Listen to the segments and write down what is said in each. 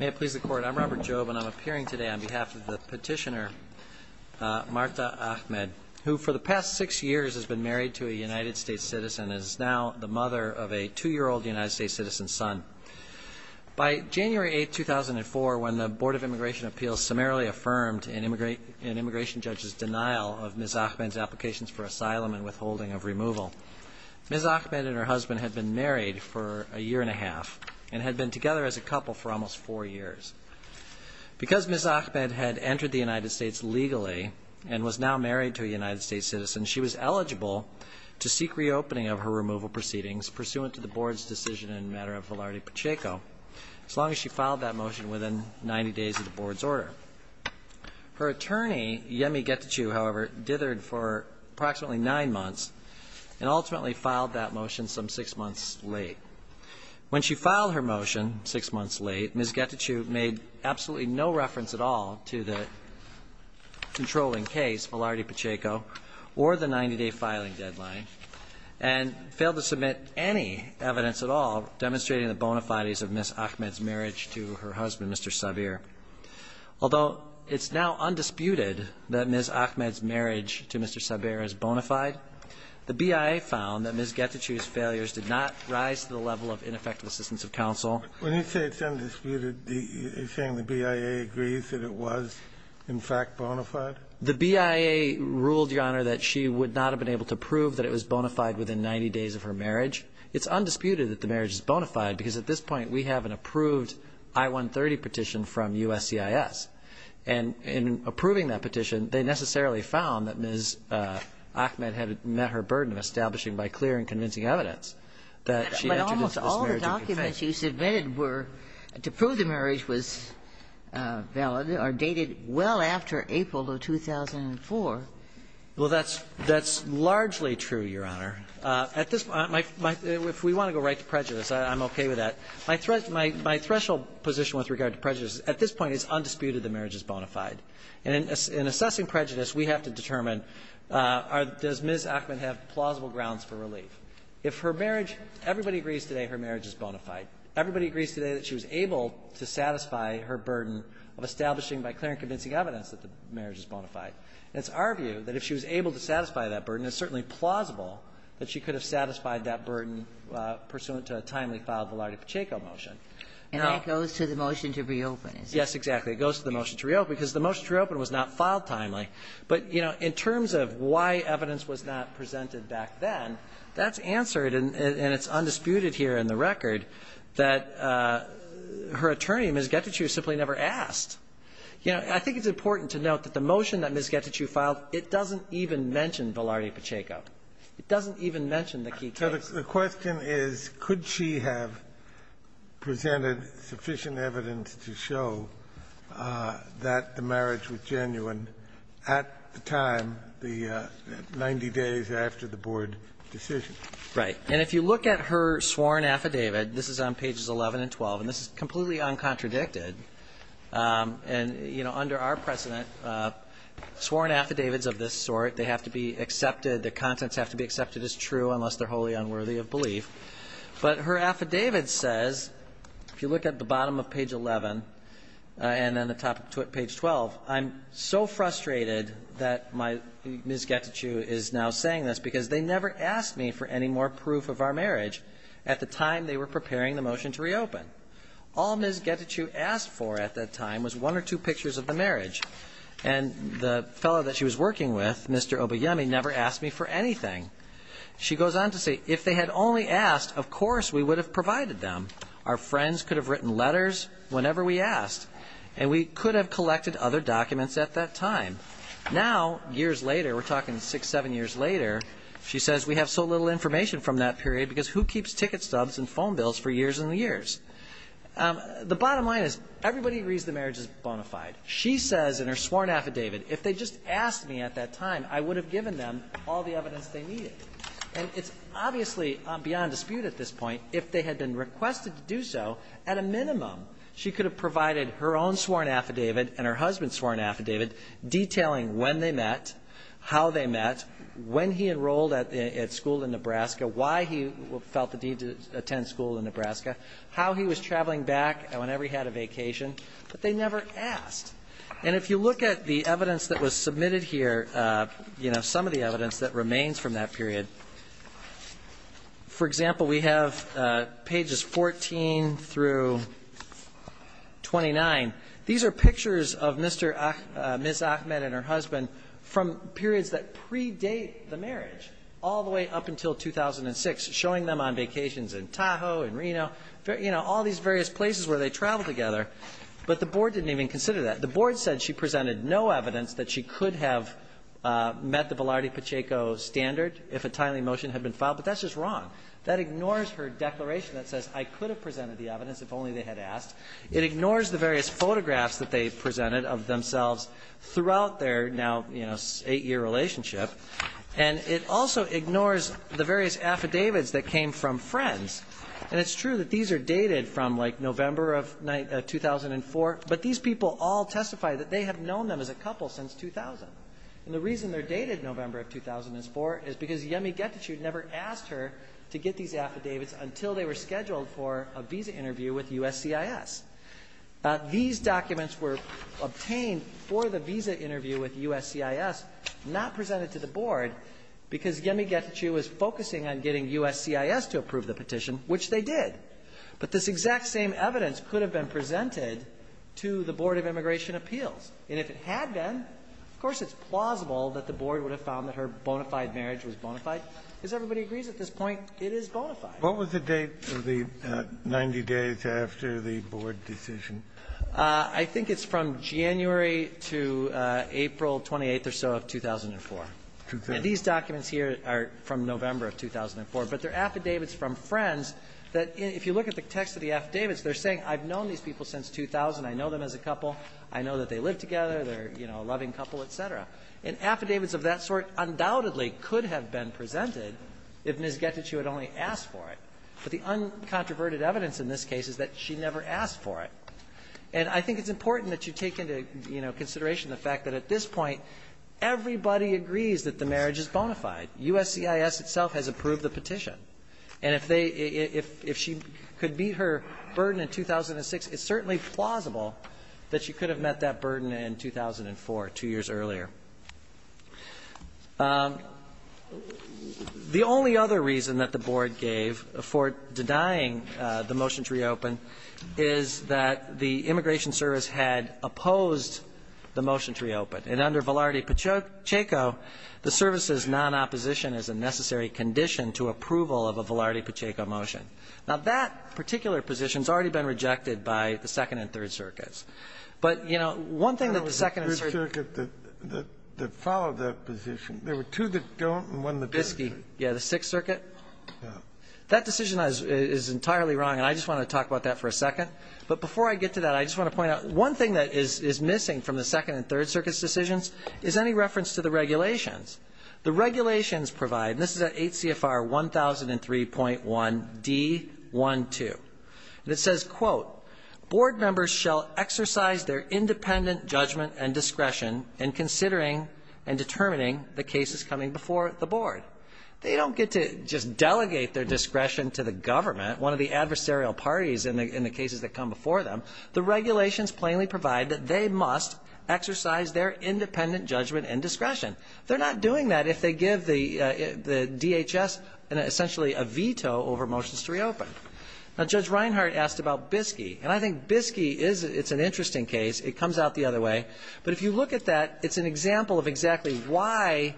May it please the Court, I'm Robert Jobe and I'm appearing today on behalf of the petitioner Marta Ahmed, who for the past six years has been married to a United States citizen and is now the mother of a two-year-old United States citizen's son. By January 8, 2004, when the Board of Immigration Appeals summarily affirmed an immigration judge's denial of Ms. Ahmed's applications for asylum and withholding of removal, Ms. Ahmed and her had been together as a couple for almost four years. Because Ms. Ahmed had entered the United States legally and was now married to a United States citizen, she was eligible to seek reopening of her removal proceedings pursuant to the Board's decision in the matter of Velarde Pacheco, as long as she filed that motion within 90 days of the Board's order. Her attorney, Yemi Getachew, however, dithered for approximately nine months and ultimately filed that motion some six months late. When she filed her motion six months late, Ms. Getachew made absolutely no reference at all to the controlling case, Velarde Pacheco, or the 90-day filing deadline, and failed to submit any evidence at all demonstrating the bona fides of Ms. Ahmed's marriage to her husband, Mr. Sabir. Although it's now undisputed that Ms. Ahmed's marriage to Mr. Sabir is bona fide, the BIA found that Ms. Getachew's failures did not rise to the level of ineffective assistance of counsel. When you say it's undisputed, you're saying the BIA agrees that it was in fact bona fide? The BIA ruled, Your Honor, that she would not have been able to prove that it was bona fide within 90 days of her marriage. It's undisputed that the marriage is bona fide, because at this point we have an approved I-130 petition from USCIS. And in approving that petition, they necessarily found that Ms. Ahmed had met her burden of establishing by clear and convincing evidence that she had introduced this marriage in conflict. But almost all the documents you submitted were to prove the marriage was valid or dated well after April of 2004. Well, that's largely true, Your Honor. At this point, if we want to go right to prejudice, I'm okay with that. My threshold position with regard to prejudice at this point is undisputed that the marriage is bona fide. And in assessing prejudice, we have to determine, does Ms. Ahmed have plausible grounds for relief? If her marriage — everybody agrees today her marriage is bona fide. Everybody agrees today that she was able to satisfy her burden of establishing by clear and convincing evidence that the marriage is bona fide. And it's our view that if she was able to satisfy that burden, it's certainly plausible that she could have satisfied that burden pursuant to a timely-filed Velarde-Pacheco motion. And that goes to the motion to reopen, is it? Yes, exactly. It goes to the motion to reopen, because the motion to reopen was not filed timely. But, you know, in terms of why evidence was not presented back then, that's answered and it's undisputed here in the record that her attorney, Ms. Getachew, simply never asked. You know, I think it's important to note that the motion that Ms. Getachew filed, it doesn't even mention Velarde-Pacheco. It doesn't even mention the key case. So the question is, could she have presented sufficient evidence to show that the marriage was genuine at the time, the 90 days after the board decision? Right. And if you look at her sworn affidavit, this is on pages 11 and 12, and this is completely uncontradicted. And, you know, under our precedent, sworn affidavits of this sort, they have to be unworthy of belief. But her affidavit says, if you look at the bottom of page 11 and then the top of page 12, I'm so frustrated that my Ms. Getachew is now saying this, because they never asked me for any more proof of our marriage at the time they were preparing the motion to reopen. All Ms. Getachew asked for at that time was one or two pictures of the marriage. And the fellow that she was working with, Mr. Obeyemi, never asked me for anything. She goes on to say, if they had only asked, of course we would have provided them. Our friends could have written letters whenever we asked, and we could have collected other documents at that time. Now, years later, we're talking six, seven years later, she says we have so little information from that period, because who keeps ticket stubs and phone bills for years and years? The bottom line is, everybody agrees the marriage is bona fide. She says in her sworn affidavit, if they just asked me at that time, I would have given them all the evidence they needed. And it's obviously beyond dispute at this point, if they had been requested to do so, at a minimum, she could have provided her own sworn affidavit and her husband's sworn affidavit detailing when they met, how they met, when he enrolled at school in Nebraska, why he felt the need to attend school in Nebraska, how he was traveling back whenever he had a vacation. But they never asked. And if you look at the evidence that was submitted here, you know, some of the evidence that remains from that period, for example, we have pages 14 through 29. These are pictures of Ms. Ahmed and her husband from periods that predate the marriage all the way up until 2006, showing them on vacations in Tahoe, in Reno, you know, all these various places where they traveled together. But the board didn't even consider that. The board said she presented no evidence that she could have met the Velarde-Pacheco standard, if a timely motion had been filed, but that's just wrong. That ignores her declaration that says, I could have presented the evidence if only they had asked. It ignores the various photographs that they presented of themselves throughout their now, you know, eight-year relationship. And it also ignores the various affidavits that came from friends. And it's true that these are dated from, like, November of 2004, but these people all testify that they have known them as a couple since 2000. And the reason they're dated November of 2004 is because Yemi Getachew never asked her to get these affidavits until they were scheduled for a visa interview with USCIS. These documents were obtained for the visa interview with USCIS, not presented to the immigration team, which they did. But this exact same evidence could have been presented to the Board of Immigration Appeals. And if it had been, of course, it's plausible that the board would have found that her bona fide marriage was bona fide, because everybody agrees at this point, it is bona fide. Kennedy. What was the date of the 90 days after the board decision? I think it's from January to April 28th or so of 2004. And these documents here are from November of 2004, but they're affidavits from friends that, if you look at the text of the affidavits, they're saying, I've known these people since 2000, I know them as a couple, I know that they live together, they're, you know, a loving couple, et cetera. And affidavits of that sort undoubtedly could have been presented if Ms. Getachew had only asked for it. But the uncontroverted evidence in this case is that she never asked for it. And I think it's important that you take into, you know, consideration the fact that at this point, everybody agrees that the marriage is bona fide. USCIS itself has approved the petition. And if they — if she could meet her burden in 2006, it's certainly plausible that she could have met that burden in 2004, two years earlier. The only other reason that the board gave for denying the motion to reopen is that the Immigration Service had opposed the motion to reopen. And under Velarde-Pacheco, the service's non-opposition is a necessary condition to approval of a Velarde-Pacheco motion. Now, that particular position has already been rejected by the Second and Third Circuits. But, you know, one thing that the Second and Third — The third circuit that followed that position, there were two that don't and one that does. Biscayne, yeah, the Sixth Circuit. Yeah. That decision is entirely wrong, and I just want to talk about that for a second. But before I get to that, I just want to point out, one thing that is missing from the Second and Third Circuit's decisions is any reference to the regulations. The regulations provide — and this is at HCFR 1003.1d12 — and it says, quote, Board members shall exercise their independent judgment and discretion in considering and determining the cases coming before the board. They don't get to just delegate their discretion to the government, one of the adversarial parties in the cases that come before them. The regulations plainly provide that they must exercise their independent judgment and discretion. They're not doing that if they give the DHS essentially a veto over motions to reopen. Now, Judge Reinhart asked about Biscayne, and I think Biscayne is — it's an interesting case. It comes out the other way. But if you look at that, it's an example of exactly why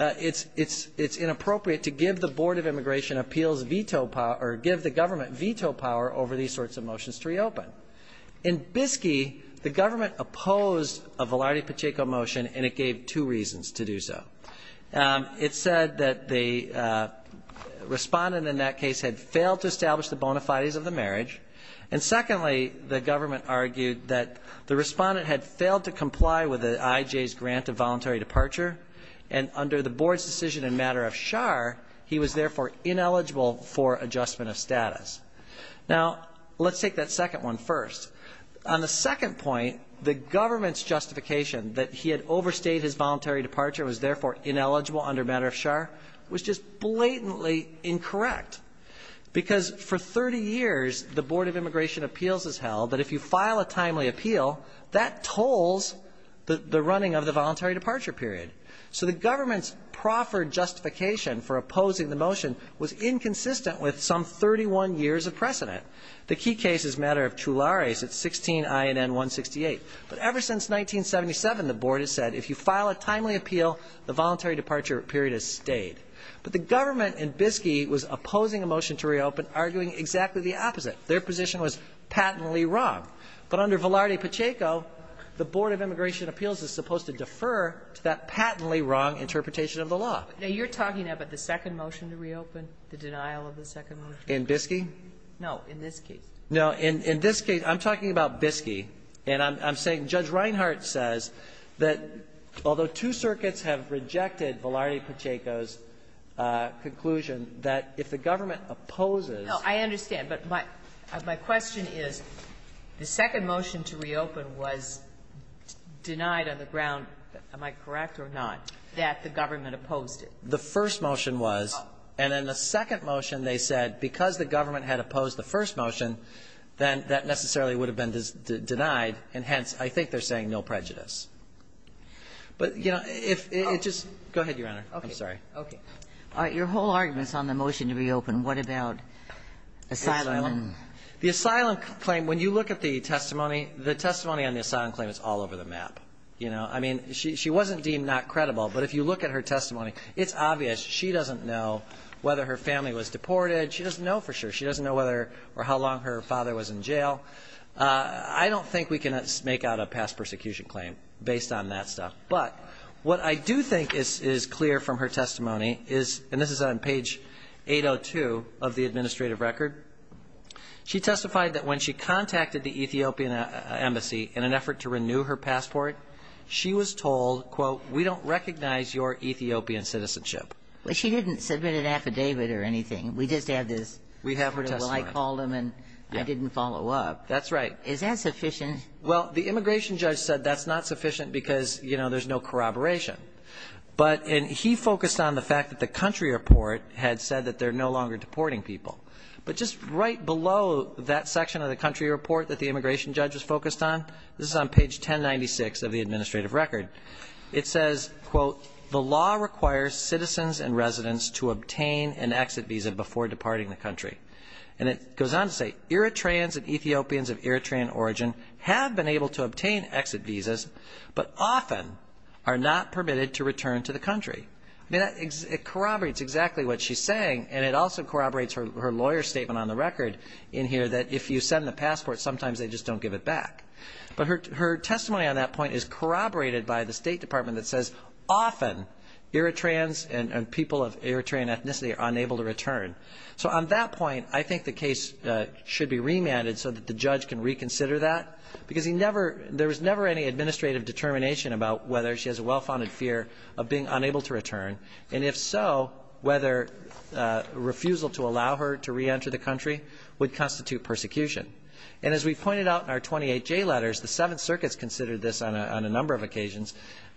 it's inappropriate to give the Board of Immigration Appeals veto power — or give the government veto power over these sorts of motions to reopen. In Biscayne, the government opposed a Velarde-Pacheco motion, and it gave two reasons to do so. It said that the respondent in that case had failed to establish the bona fides of the marriage, and secondly, the government argued that the respondent had failed to comply with the IJ's grant of voluntary departure, and under the board's decision in matter of char, he was therefore ineligible for adjustment of status. Now, let's take that second one first. On the second point, the government's justification that he had overstayed his voluntary departure, was therefore ineligible under matter of char, was just blatantly incorrect. Because for 30 years, the Board of Immigration Appeals has held that if you file a timely appeal, that tolls the running of the voluntary departure period. So the government's proffered justification for opposing the motion was inconsistent with some 31 years of precedent. The key case is matter of chulares at 16 INN 168. But ever since 1977, the board has said if you file a timely appeal, the voluntary departure period has stayed. But the government in Biscayne was opposing a motion to reopen, arguing exactly the opposite. Their position was patently wrong. But under Velarde-Pacheco, the Board of Immigration Appeals is supposed to defer to that patently wrong interpretation of the law. Now, you're talking about the second motion to reopen, the denial of the second motion? In Biscayne? No, in this case. No. In this case, I'm talking about Biscayne. And I'm saying Judge Reinhart says that although two circuits have rejected Velarde-Pacheco's conclusion, that if the government opposes the motion to reopen, that the government opposed it. No, I understand. But my question is, the second motion to reopen was denied on the ground, am I correct or not, that the government opposed it. The first motion was, and in the second motion, they said because the government had opposed the first motion, then that necessarily would have been denied, and hence, I think they're saying no prejudice. But, you know, if it just go ahead, Your Honor. I'm sorry. Okay. Your whole argument is on the motion to reopen. What about asylum? The asylum claim, when you look at the testimony, the testimony on the asylum claim is all over the map. You know, I mean, she wasn't deemed not credible, but if you look at her testimony, it's obvious she doesn't know whether her family was deported. She doesn't know for sure. She doesn't know whether or how long her father was in jail. I don't think we can make out a past persecution claim based on that stuff. But what I do think is clear from her testimony is, and this is on page 802 of the administrative record, she testified that when she contacted the Ethiopian embassy in an effort to renew her passport, she was told, quote, we don't recognize your Ethiopian citizenship. Well, she didn't submit an affidavit or anything. We just have this. We have her testimony. Well, I called them and I didn't follow up. That's right. Is that sufficient? Well, the immigration judge said that's not sufficient because, you know, there's no corroboration. But he focused on the fact that the country report had said that they're no longer deporting people. But just right below that section of the country report that the immigration judge was focused on, this is on page 1096 of the administrative record, it says, quote, the law requires citizens and residents to obtain an exit visa before departing the country. And it goes on to say Eritreans and Ethiopians of Eritrean origin have been able to obtain exit visas, but often are not permitted to return to the country. I mean, it corroborates exactly what she's saying. And it also corroborates her lawyer statement on the record in here that if you send the passport, sometimes they just don't give it back. But her testimony on that point is corroborated by the State Department that says often Eritreans and people of Eritrean ethnicity are unable to return. So on that point, I think the case should be remanded so that the judge can reconsider that because he never there was never any administrative determination about whether she has a well-founded fear of being unable to return. And if so, whether refusal to allow her to reenter the country would constitute persecution. And as we pointed out in our 28J letters, the Seventh Circuit's considered this on a number of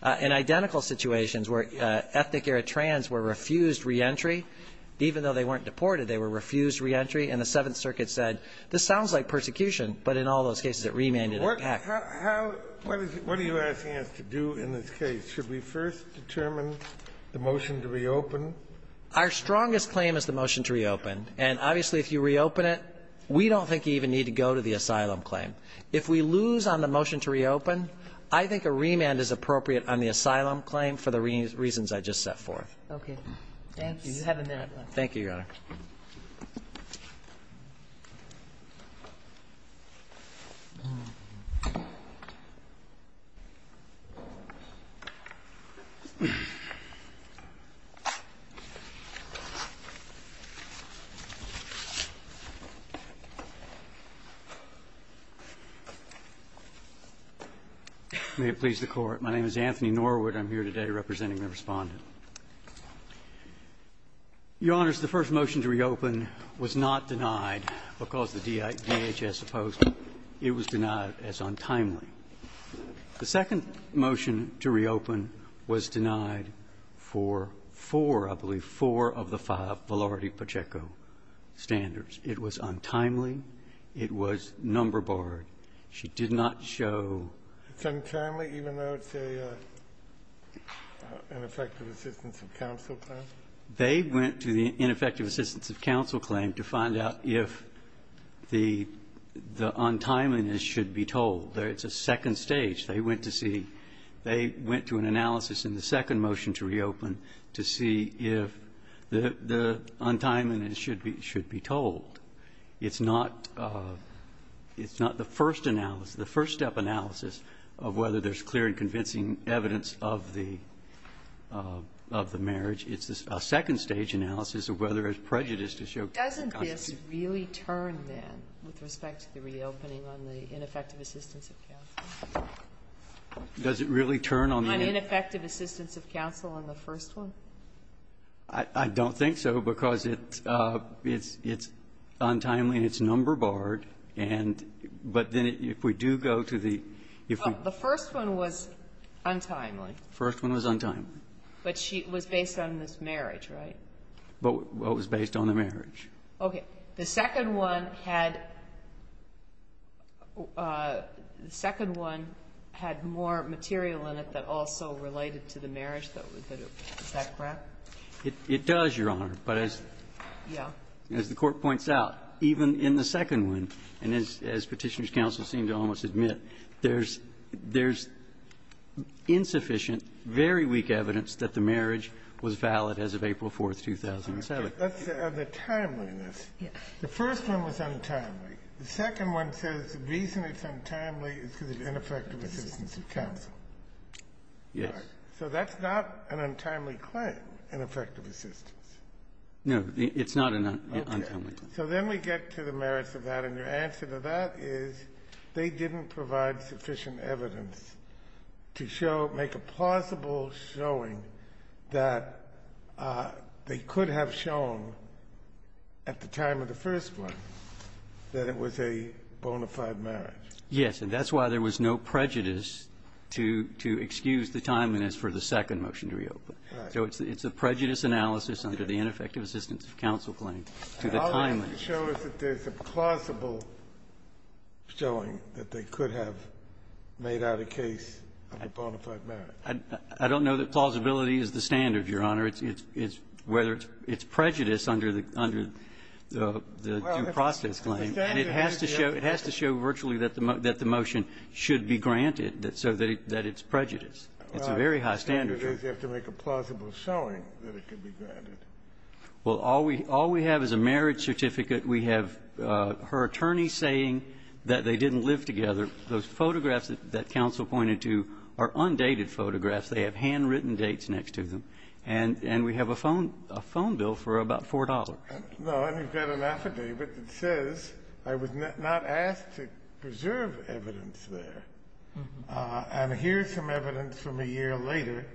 identical situations where ethnic Eritreans were refused reentry. Even though they weren't deported, they were refused reentry. And the Seventh Circuit said, this sounds like persecution, but in all those cases it remanded it back. Kennedy. What is it? What are you asking us to do in this case? Should we first determine the motion to reopen? Our strongest claim is the motion to reopen. And obviously, if you reopen it, we don't think you even need to go to the asylum claim. If we lose on the motion to reopen, I think a remand is appropriate on the asylum claim for the reasons I just set forth. Okay. Thank you. Thank you, Your Honor. May it please the Court. My name is Anthony Norwood. I'm here today representing the Respondent. Your Honors, the first motion to reopen was not denied because the DHS opposed it. It was denied as untimely. The second motion to reopen was denied for four, I believe, four of the five Valerity Pacheco standards. It was untimely. It was number borrowed. She did not show. It's untimely, even though it's a ineffective assistance of counsel claim? They went to the ineffective assistance of counsel claim to find out if the untimeliness should be told. It's a second stage. They went to see. They went to an analysis in the second motion to reopen to see if the untimeliness should be told. It's not the first analysis, the first step analysis of whether there's clear and convincing evidence of the marriage. It's a second stage analysis of whether there's prejudice to show. Doesn't this really turn, then, with respect to the reopening on the ineffective assistance of counsel? Does it really turn on the ineffective assistance of counsel on the first one? I don't think so, because it's untimely and it's number borrowed, but then if we do go to the the first one was untimely. First one was untimely. But she was based on this marriage, right? But it was based on the marriage. Okay. The second one had the second one had more material in it that also related to the It does, Your Honor. But as the court points out, even in the second one, and as Petitioner's counsel seemed to almost admit, there's insufficient, very weak evidence that the marriage was valid as of April 4th, 2007. Let's say on the timeliness, the first one was untimely. The second one says the reason it's untimely is because of ineffective assistance of counsel. Yes. So that's not an untimely claim, ineffective assistance. No, it's not an untimely claim. So then we get to the merits of that. And your answer to that is they didn't provide sufficient evidence to show, make a plausible showing that they could have shown at the time of the first one that it was a bona fide marriage. Yes. And that's why there was no prejudice to excuse the timeliness for the second motion to reopen. So it's a prejudice analysis under the ineffective assistance of counsel claim to the timeliness. And all it can show is that there's a plausible showing that they could have made out a case of a bona fide marriage. I don't know that plausibility is the standard, Your Honor. It's whether it's prejudice under the due process claim. And it has to show virtually that the motion should be granted so that it's prejudice. It's a very high standard. Well, I think it is. You have to make a plausible showing that it could be granted. Well, all we have is a marriage certificate. We have her attorney saying that they didn't live together. Those photographs that counsel pointed to are undated photographs. They have handwritten dates next to them. And we have a phone bill for about $4. No, and we've got an affidavit that says, I was not asked to preserve evidence there. And here's some evidence from a year later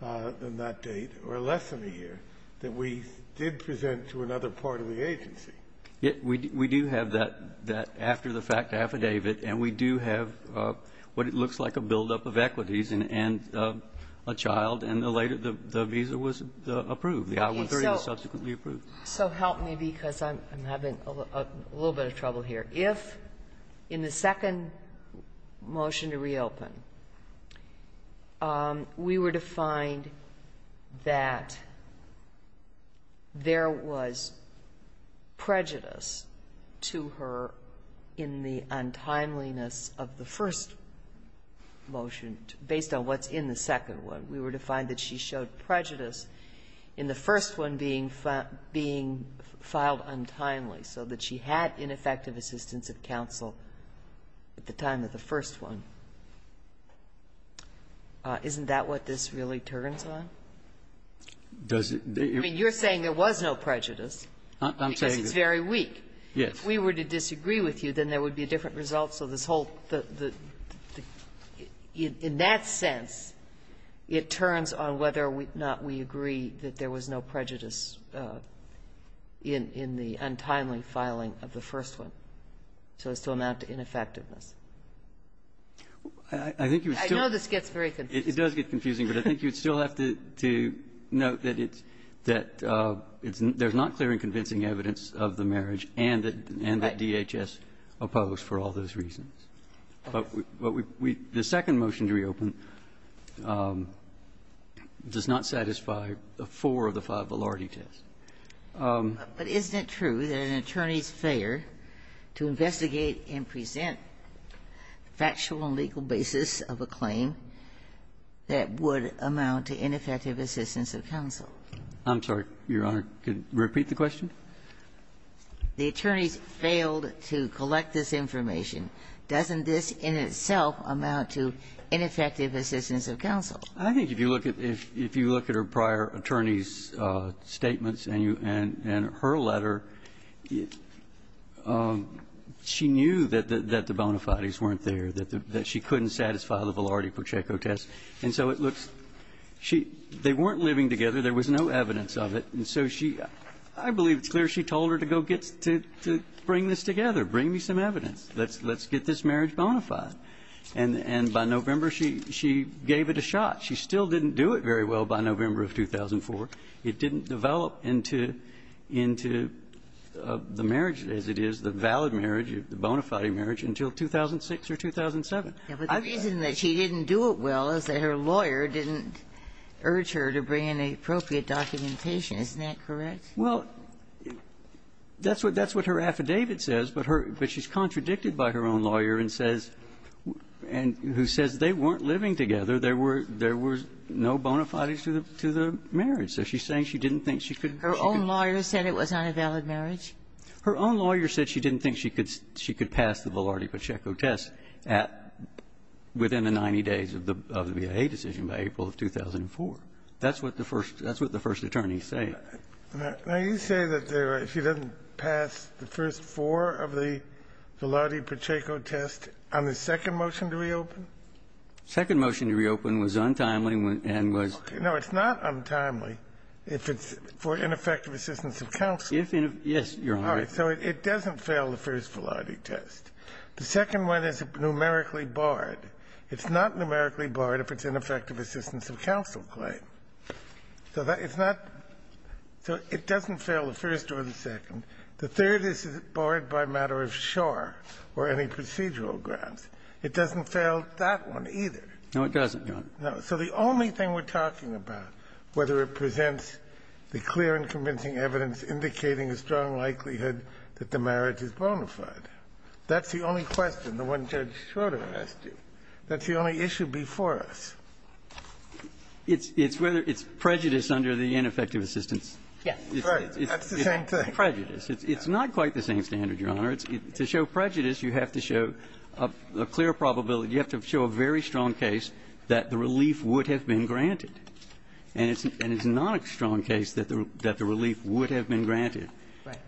than that date or less than a year that we did present to another part of the agency. Yet we do have that after the fact affidavit. And we do have what it looks like a buildup of equities and a child. And the later the visa was approved. The I-130 was subsequently approved. So help me because I'm having a little bit of trouble here. If in the second motion to reopen, we were to find that there was prejudice to her in the untimeliness of the first motion based on what's in the second one. If we were to find that she showed prejudice in the first one being filed untimely so that she had ineffective assistance of counsel at the time of the first one, isn't that what this really turns on? I mean, you're saying there was no prejudice because it's very weak. Yes. If we were to disagree with you, then there would be a different result. So this whole, in that sense, it turns on whether or not we agree that there was no prejudice in the untimely filing of the first one, so as to amount to ineffectiveness. I know this gets very confusing. It does get confusing, but I think you'd still have to note that it's, that there's not clear and convincing evidence of the marriage and that DHS opposed for all those reasons. But we, the second motion to reopen does not satisfy four of the five validity tests. But isn't it true that an attorney's failure to investigate and present factual and legal basis of a claim that would amount to ineffective assistance of counsel? I'm sorry, Your Honor. Could you repeat the question? The attorneys failed to collect this information. Doesn't this in itself amount to ineffective assistance of counsel? I think if you look at, if you look at her prior attorney's statements and her letter, she knew that the bona fides weren't there, that she couldn't satisfy the Valardi-Pocheco test. And so it looks, she, they weren't living together. There was no evidence of it. And so she, I believe it's clear she told her to go get, to bring this together, bring me some evidence. Let's get this marriage bona fide. And by November, she gave it a shot. She still didn't do it very well by November of 2004. It didn't develop into the marriage as it is, the valid marriage, the bona fide marriage, until 2006 or 2007. The reason that she didn't do it well is that her lawyer didn't urge her to bring in the appropriate documentation. Isn't that correct? Well, that's what her affidavit says, but her, but she's contradicted by her own lawyer and says, and who says they weren't living together. There were, there were no bona fides to the, to the marriage. So she's saying she didn't think she could. Her own lawyer said it was not a valid marriage? Her own lawyer said she didn't think she could, she could pass the Valardi-Pocheco test at, within the 90 days of the, of the VA decision, by April of 2004. That's what the first, that's what the first attorney said. Now, you say that she didn't pass the first four of the Valardi-Pocheco test on the second motion to reopen? Second motion to reopen was untimely and was. No, it's not untimely if it's for ineffective assistance of counsel. If, yes, Your Honor. All right. So it doesn't fail the first Valardi test. The second one is numerically barred. It's not numerically barred if it's ineffective assistance of counsel claim. So that, it's not, so it doesn't fail the first or the second. The third is barred by matter of shore or any procedural grounds. It doesn't fail that one either. No, it doesn't, Your Honor. No. So the only thing we're talking about, whether it presents the clear and convincing evidence indicating a strong likelihood that the marriage is bona fide, that's the only question, the one Judge Schroeder asked you. That's the only issue before us. It's prejudice under the ineffective assistance. Yes. Right. That's the same thing. Prejudice. It's not quite the same standard, Your Honor. To show prejudice, you have to show a clear probability. You have to show a very strong case that the relief would have been granted. And it's not a strong case that the relief would have been granted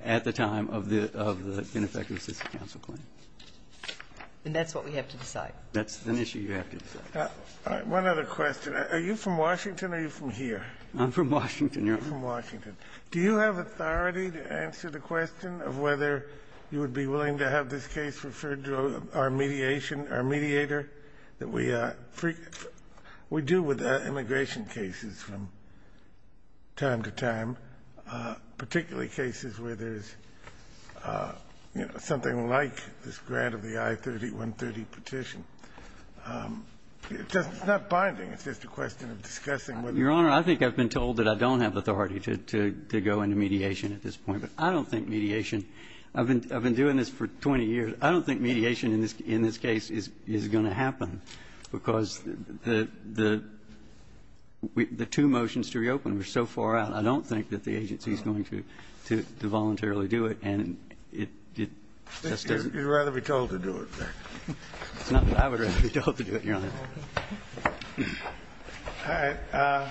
at the time of the ineffective assistance of counsel claim. And that's what we have to decide. That's an issue you have to decide. One other question. Are you from Washington or are you from here? I'm from Washington, Your Honor. You're from Washington. Do you have authority to answer the question of whether you would be willing to have this case referred to our mediation, our mediator that we do with immigration cases from time to time, particularly cases where there's, you know, something like this grant of the I-30, 130 petition? It's not binding. It's just a question of discussing whether or not you would be willing to do it. Your Honor, I think I've been told that I don't have authority to go into mediation at this point. But I don't think mediation of an doing this for 20 years, I don't think mediation in this case is going to happen because the two motions to reopen were so far out. I don't think that the agency is going to voluntarily do it. And it just doesn't You'd rather be told to do it, then. It's not that I would rather be told to do it, Your Honor. All right.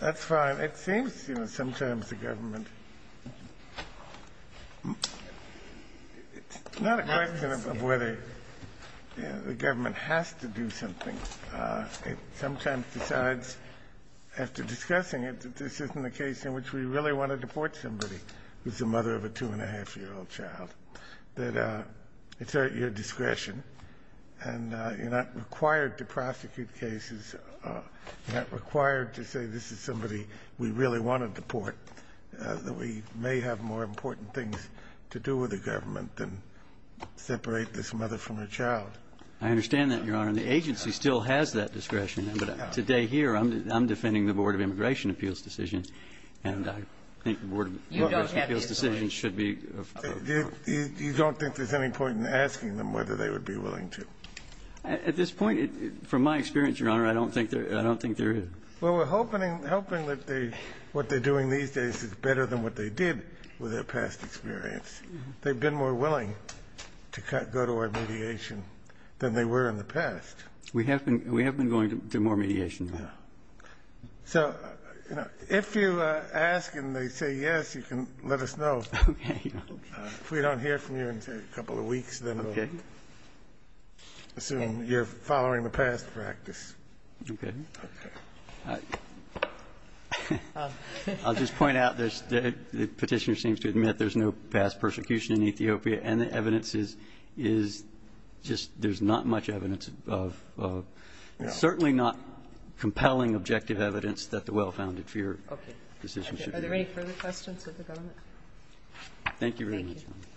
That's fine. It seems, you know, sometimes the government It's not a question of whether the government has to do something. It sometimes decides, after discussing it, that this isn't a case in which we really want to deport somebody who's the mother of a 2-1⁄2-year-old child, that it's at your discretion. And you're not required to prosecute cases, you're not required to say this is somebody we really want to deport, that we may have more important things to do with the government than separate this mother from her child. I understand that, Your Honor. And the agency still has that discretion. But today here, I'm defending the Board of Immigration Appeals' decision. And I think the Board of Immigration Appeals' decision should be You don't think there's any point in asking them whether they would be willing to? At this point, from my experience, Your Honor, I don't think there is. Well, we're hoping that what they're doing these days is better than what they did with their past experience. They've been more willing to go to our mediation than they were in the past. We have been going to more mediation. So, you know, if you ask and they say yes, you can let us know. Okay. If we don't hear from you in, say, a couple of weeks, then we'll assume you're following the past practice. Okay. I'll just point out this. The Petitioner seems to admit there's no past persecution in Ethiopia, and the evidence is just there's not much evidence of certainly not compelling objective evidence that the well-founded fear decision should be made. Are there any further questions of the government? Thank you very much, Your Honor.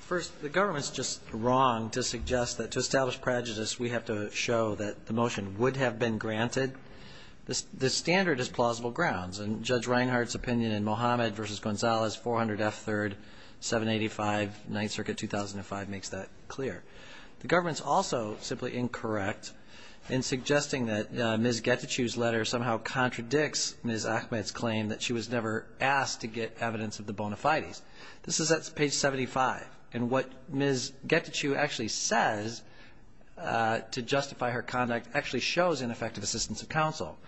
First, the government's just wrong to suggest that to establish prejudice, we have to show that the motion would have been granted. The standard is plausible grounds. And Judge Reinhart's opinion in Mohammed v. Gonzalez, 400 F. 3rd, 785, 9th Circuit, 2005, makes that clear. The government's also simply incorrect in suggesting that Ms. Getachew's letter somehow contradicts Ms. Ahmed's claim that she was never asked to get evidence of the bona fides. This is at page 75. And what Ms. Getachew actually says to justify her conduct actually shows ineffective assistance of counsel.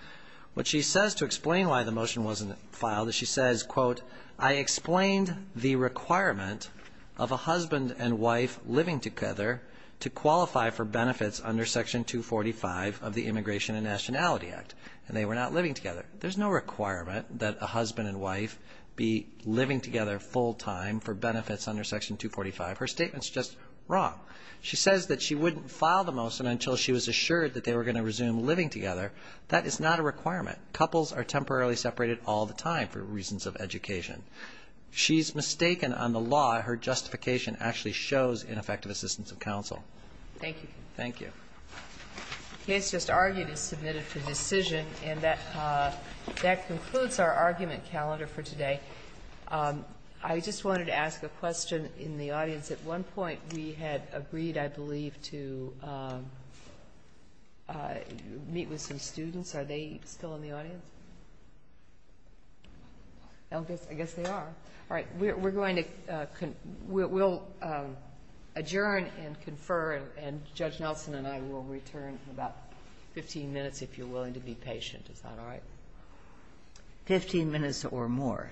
What she says to explain why the motion wasn't filed is she says, quote, I explained the requirement of a husband and wife living together to qualify for benefits under Section 245 of the Immigration and Nationality Act, and they were not living together. There's no requirement that a husband and wife be living together full time for benefits under Section 245. Her statement's just wrong. She says that she wouldn't file the motion until she was assured that they were going to resume living together. That is not a requirement. Couples are temporarily separated all the time for reasons of education. She's mistaken on the law. Her justification actually shows ineffective assistance of counsel. Thank you. Thank you. The case just argued is submitted for decision. And that concludes our argument calendar for today. I just wanted to ask a question in the audience. At one point, we had agreed, I believe, to meet with some students. Are they still in the audience? I guess they are. All right. We're going to adjourn and confer, and Judge Nelson and I will return in about 15 minutes if you're willing to be patient. Is that all right? 15 minutes or more.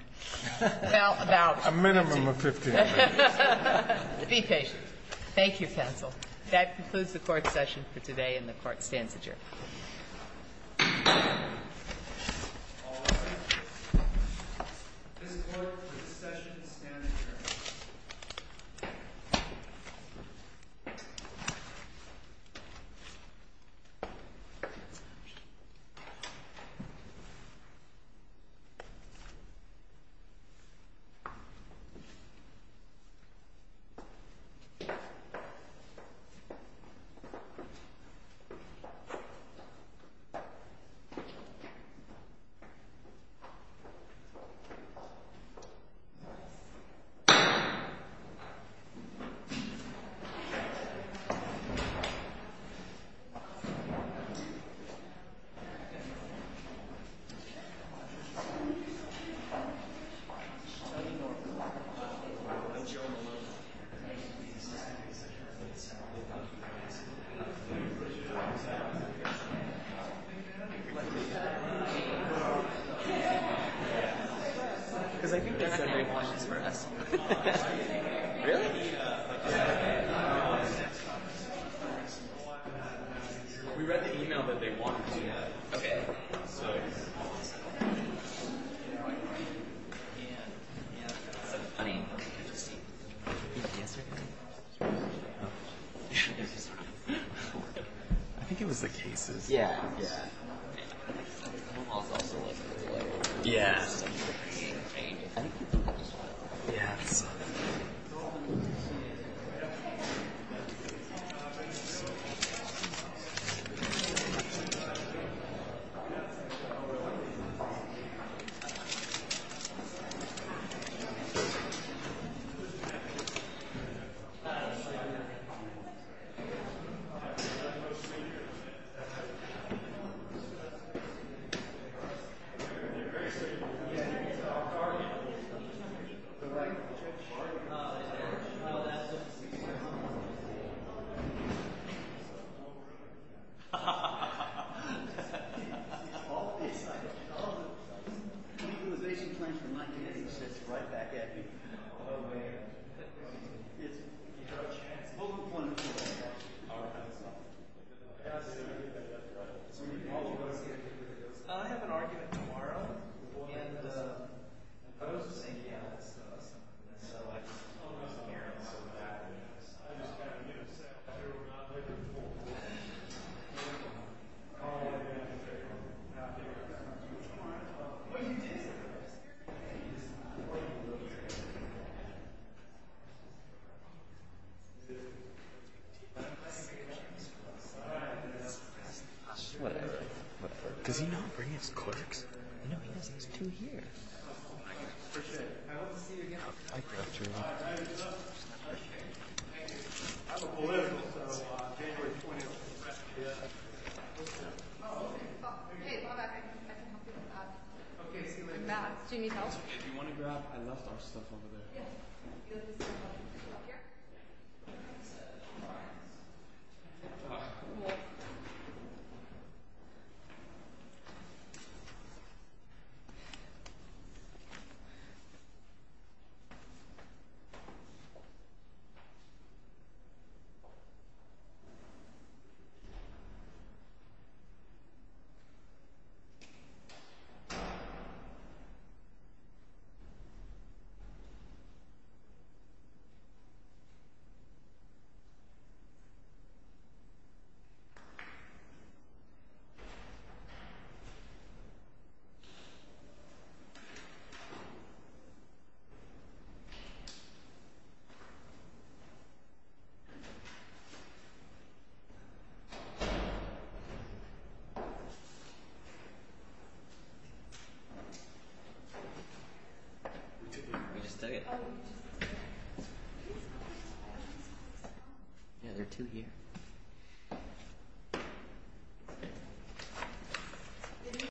Well, about 15 minutes. A minimum of 15 minutes. Be patient. Thank you, counsel. That concludes the court session for today, and the Court stands adjourned. All rise. This court for this session stands adjourned. Thank you. Thank you. Thank you. Thank you. Thank you. Thank you. Thank you. Thank you. Thank you. Thank you. Thank you.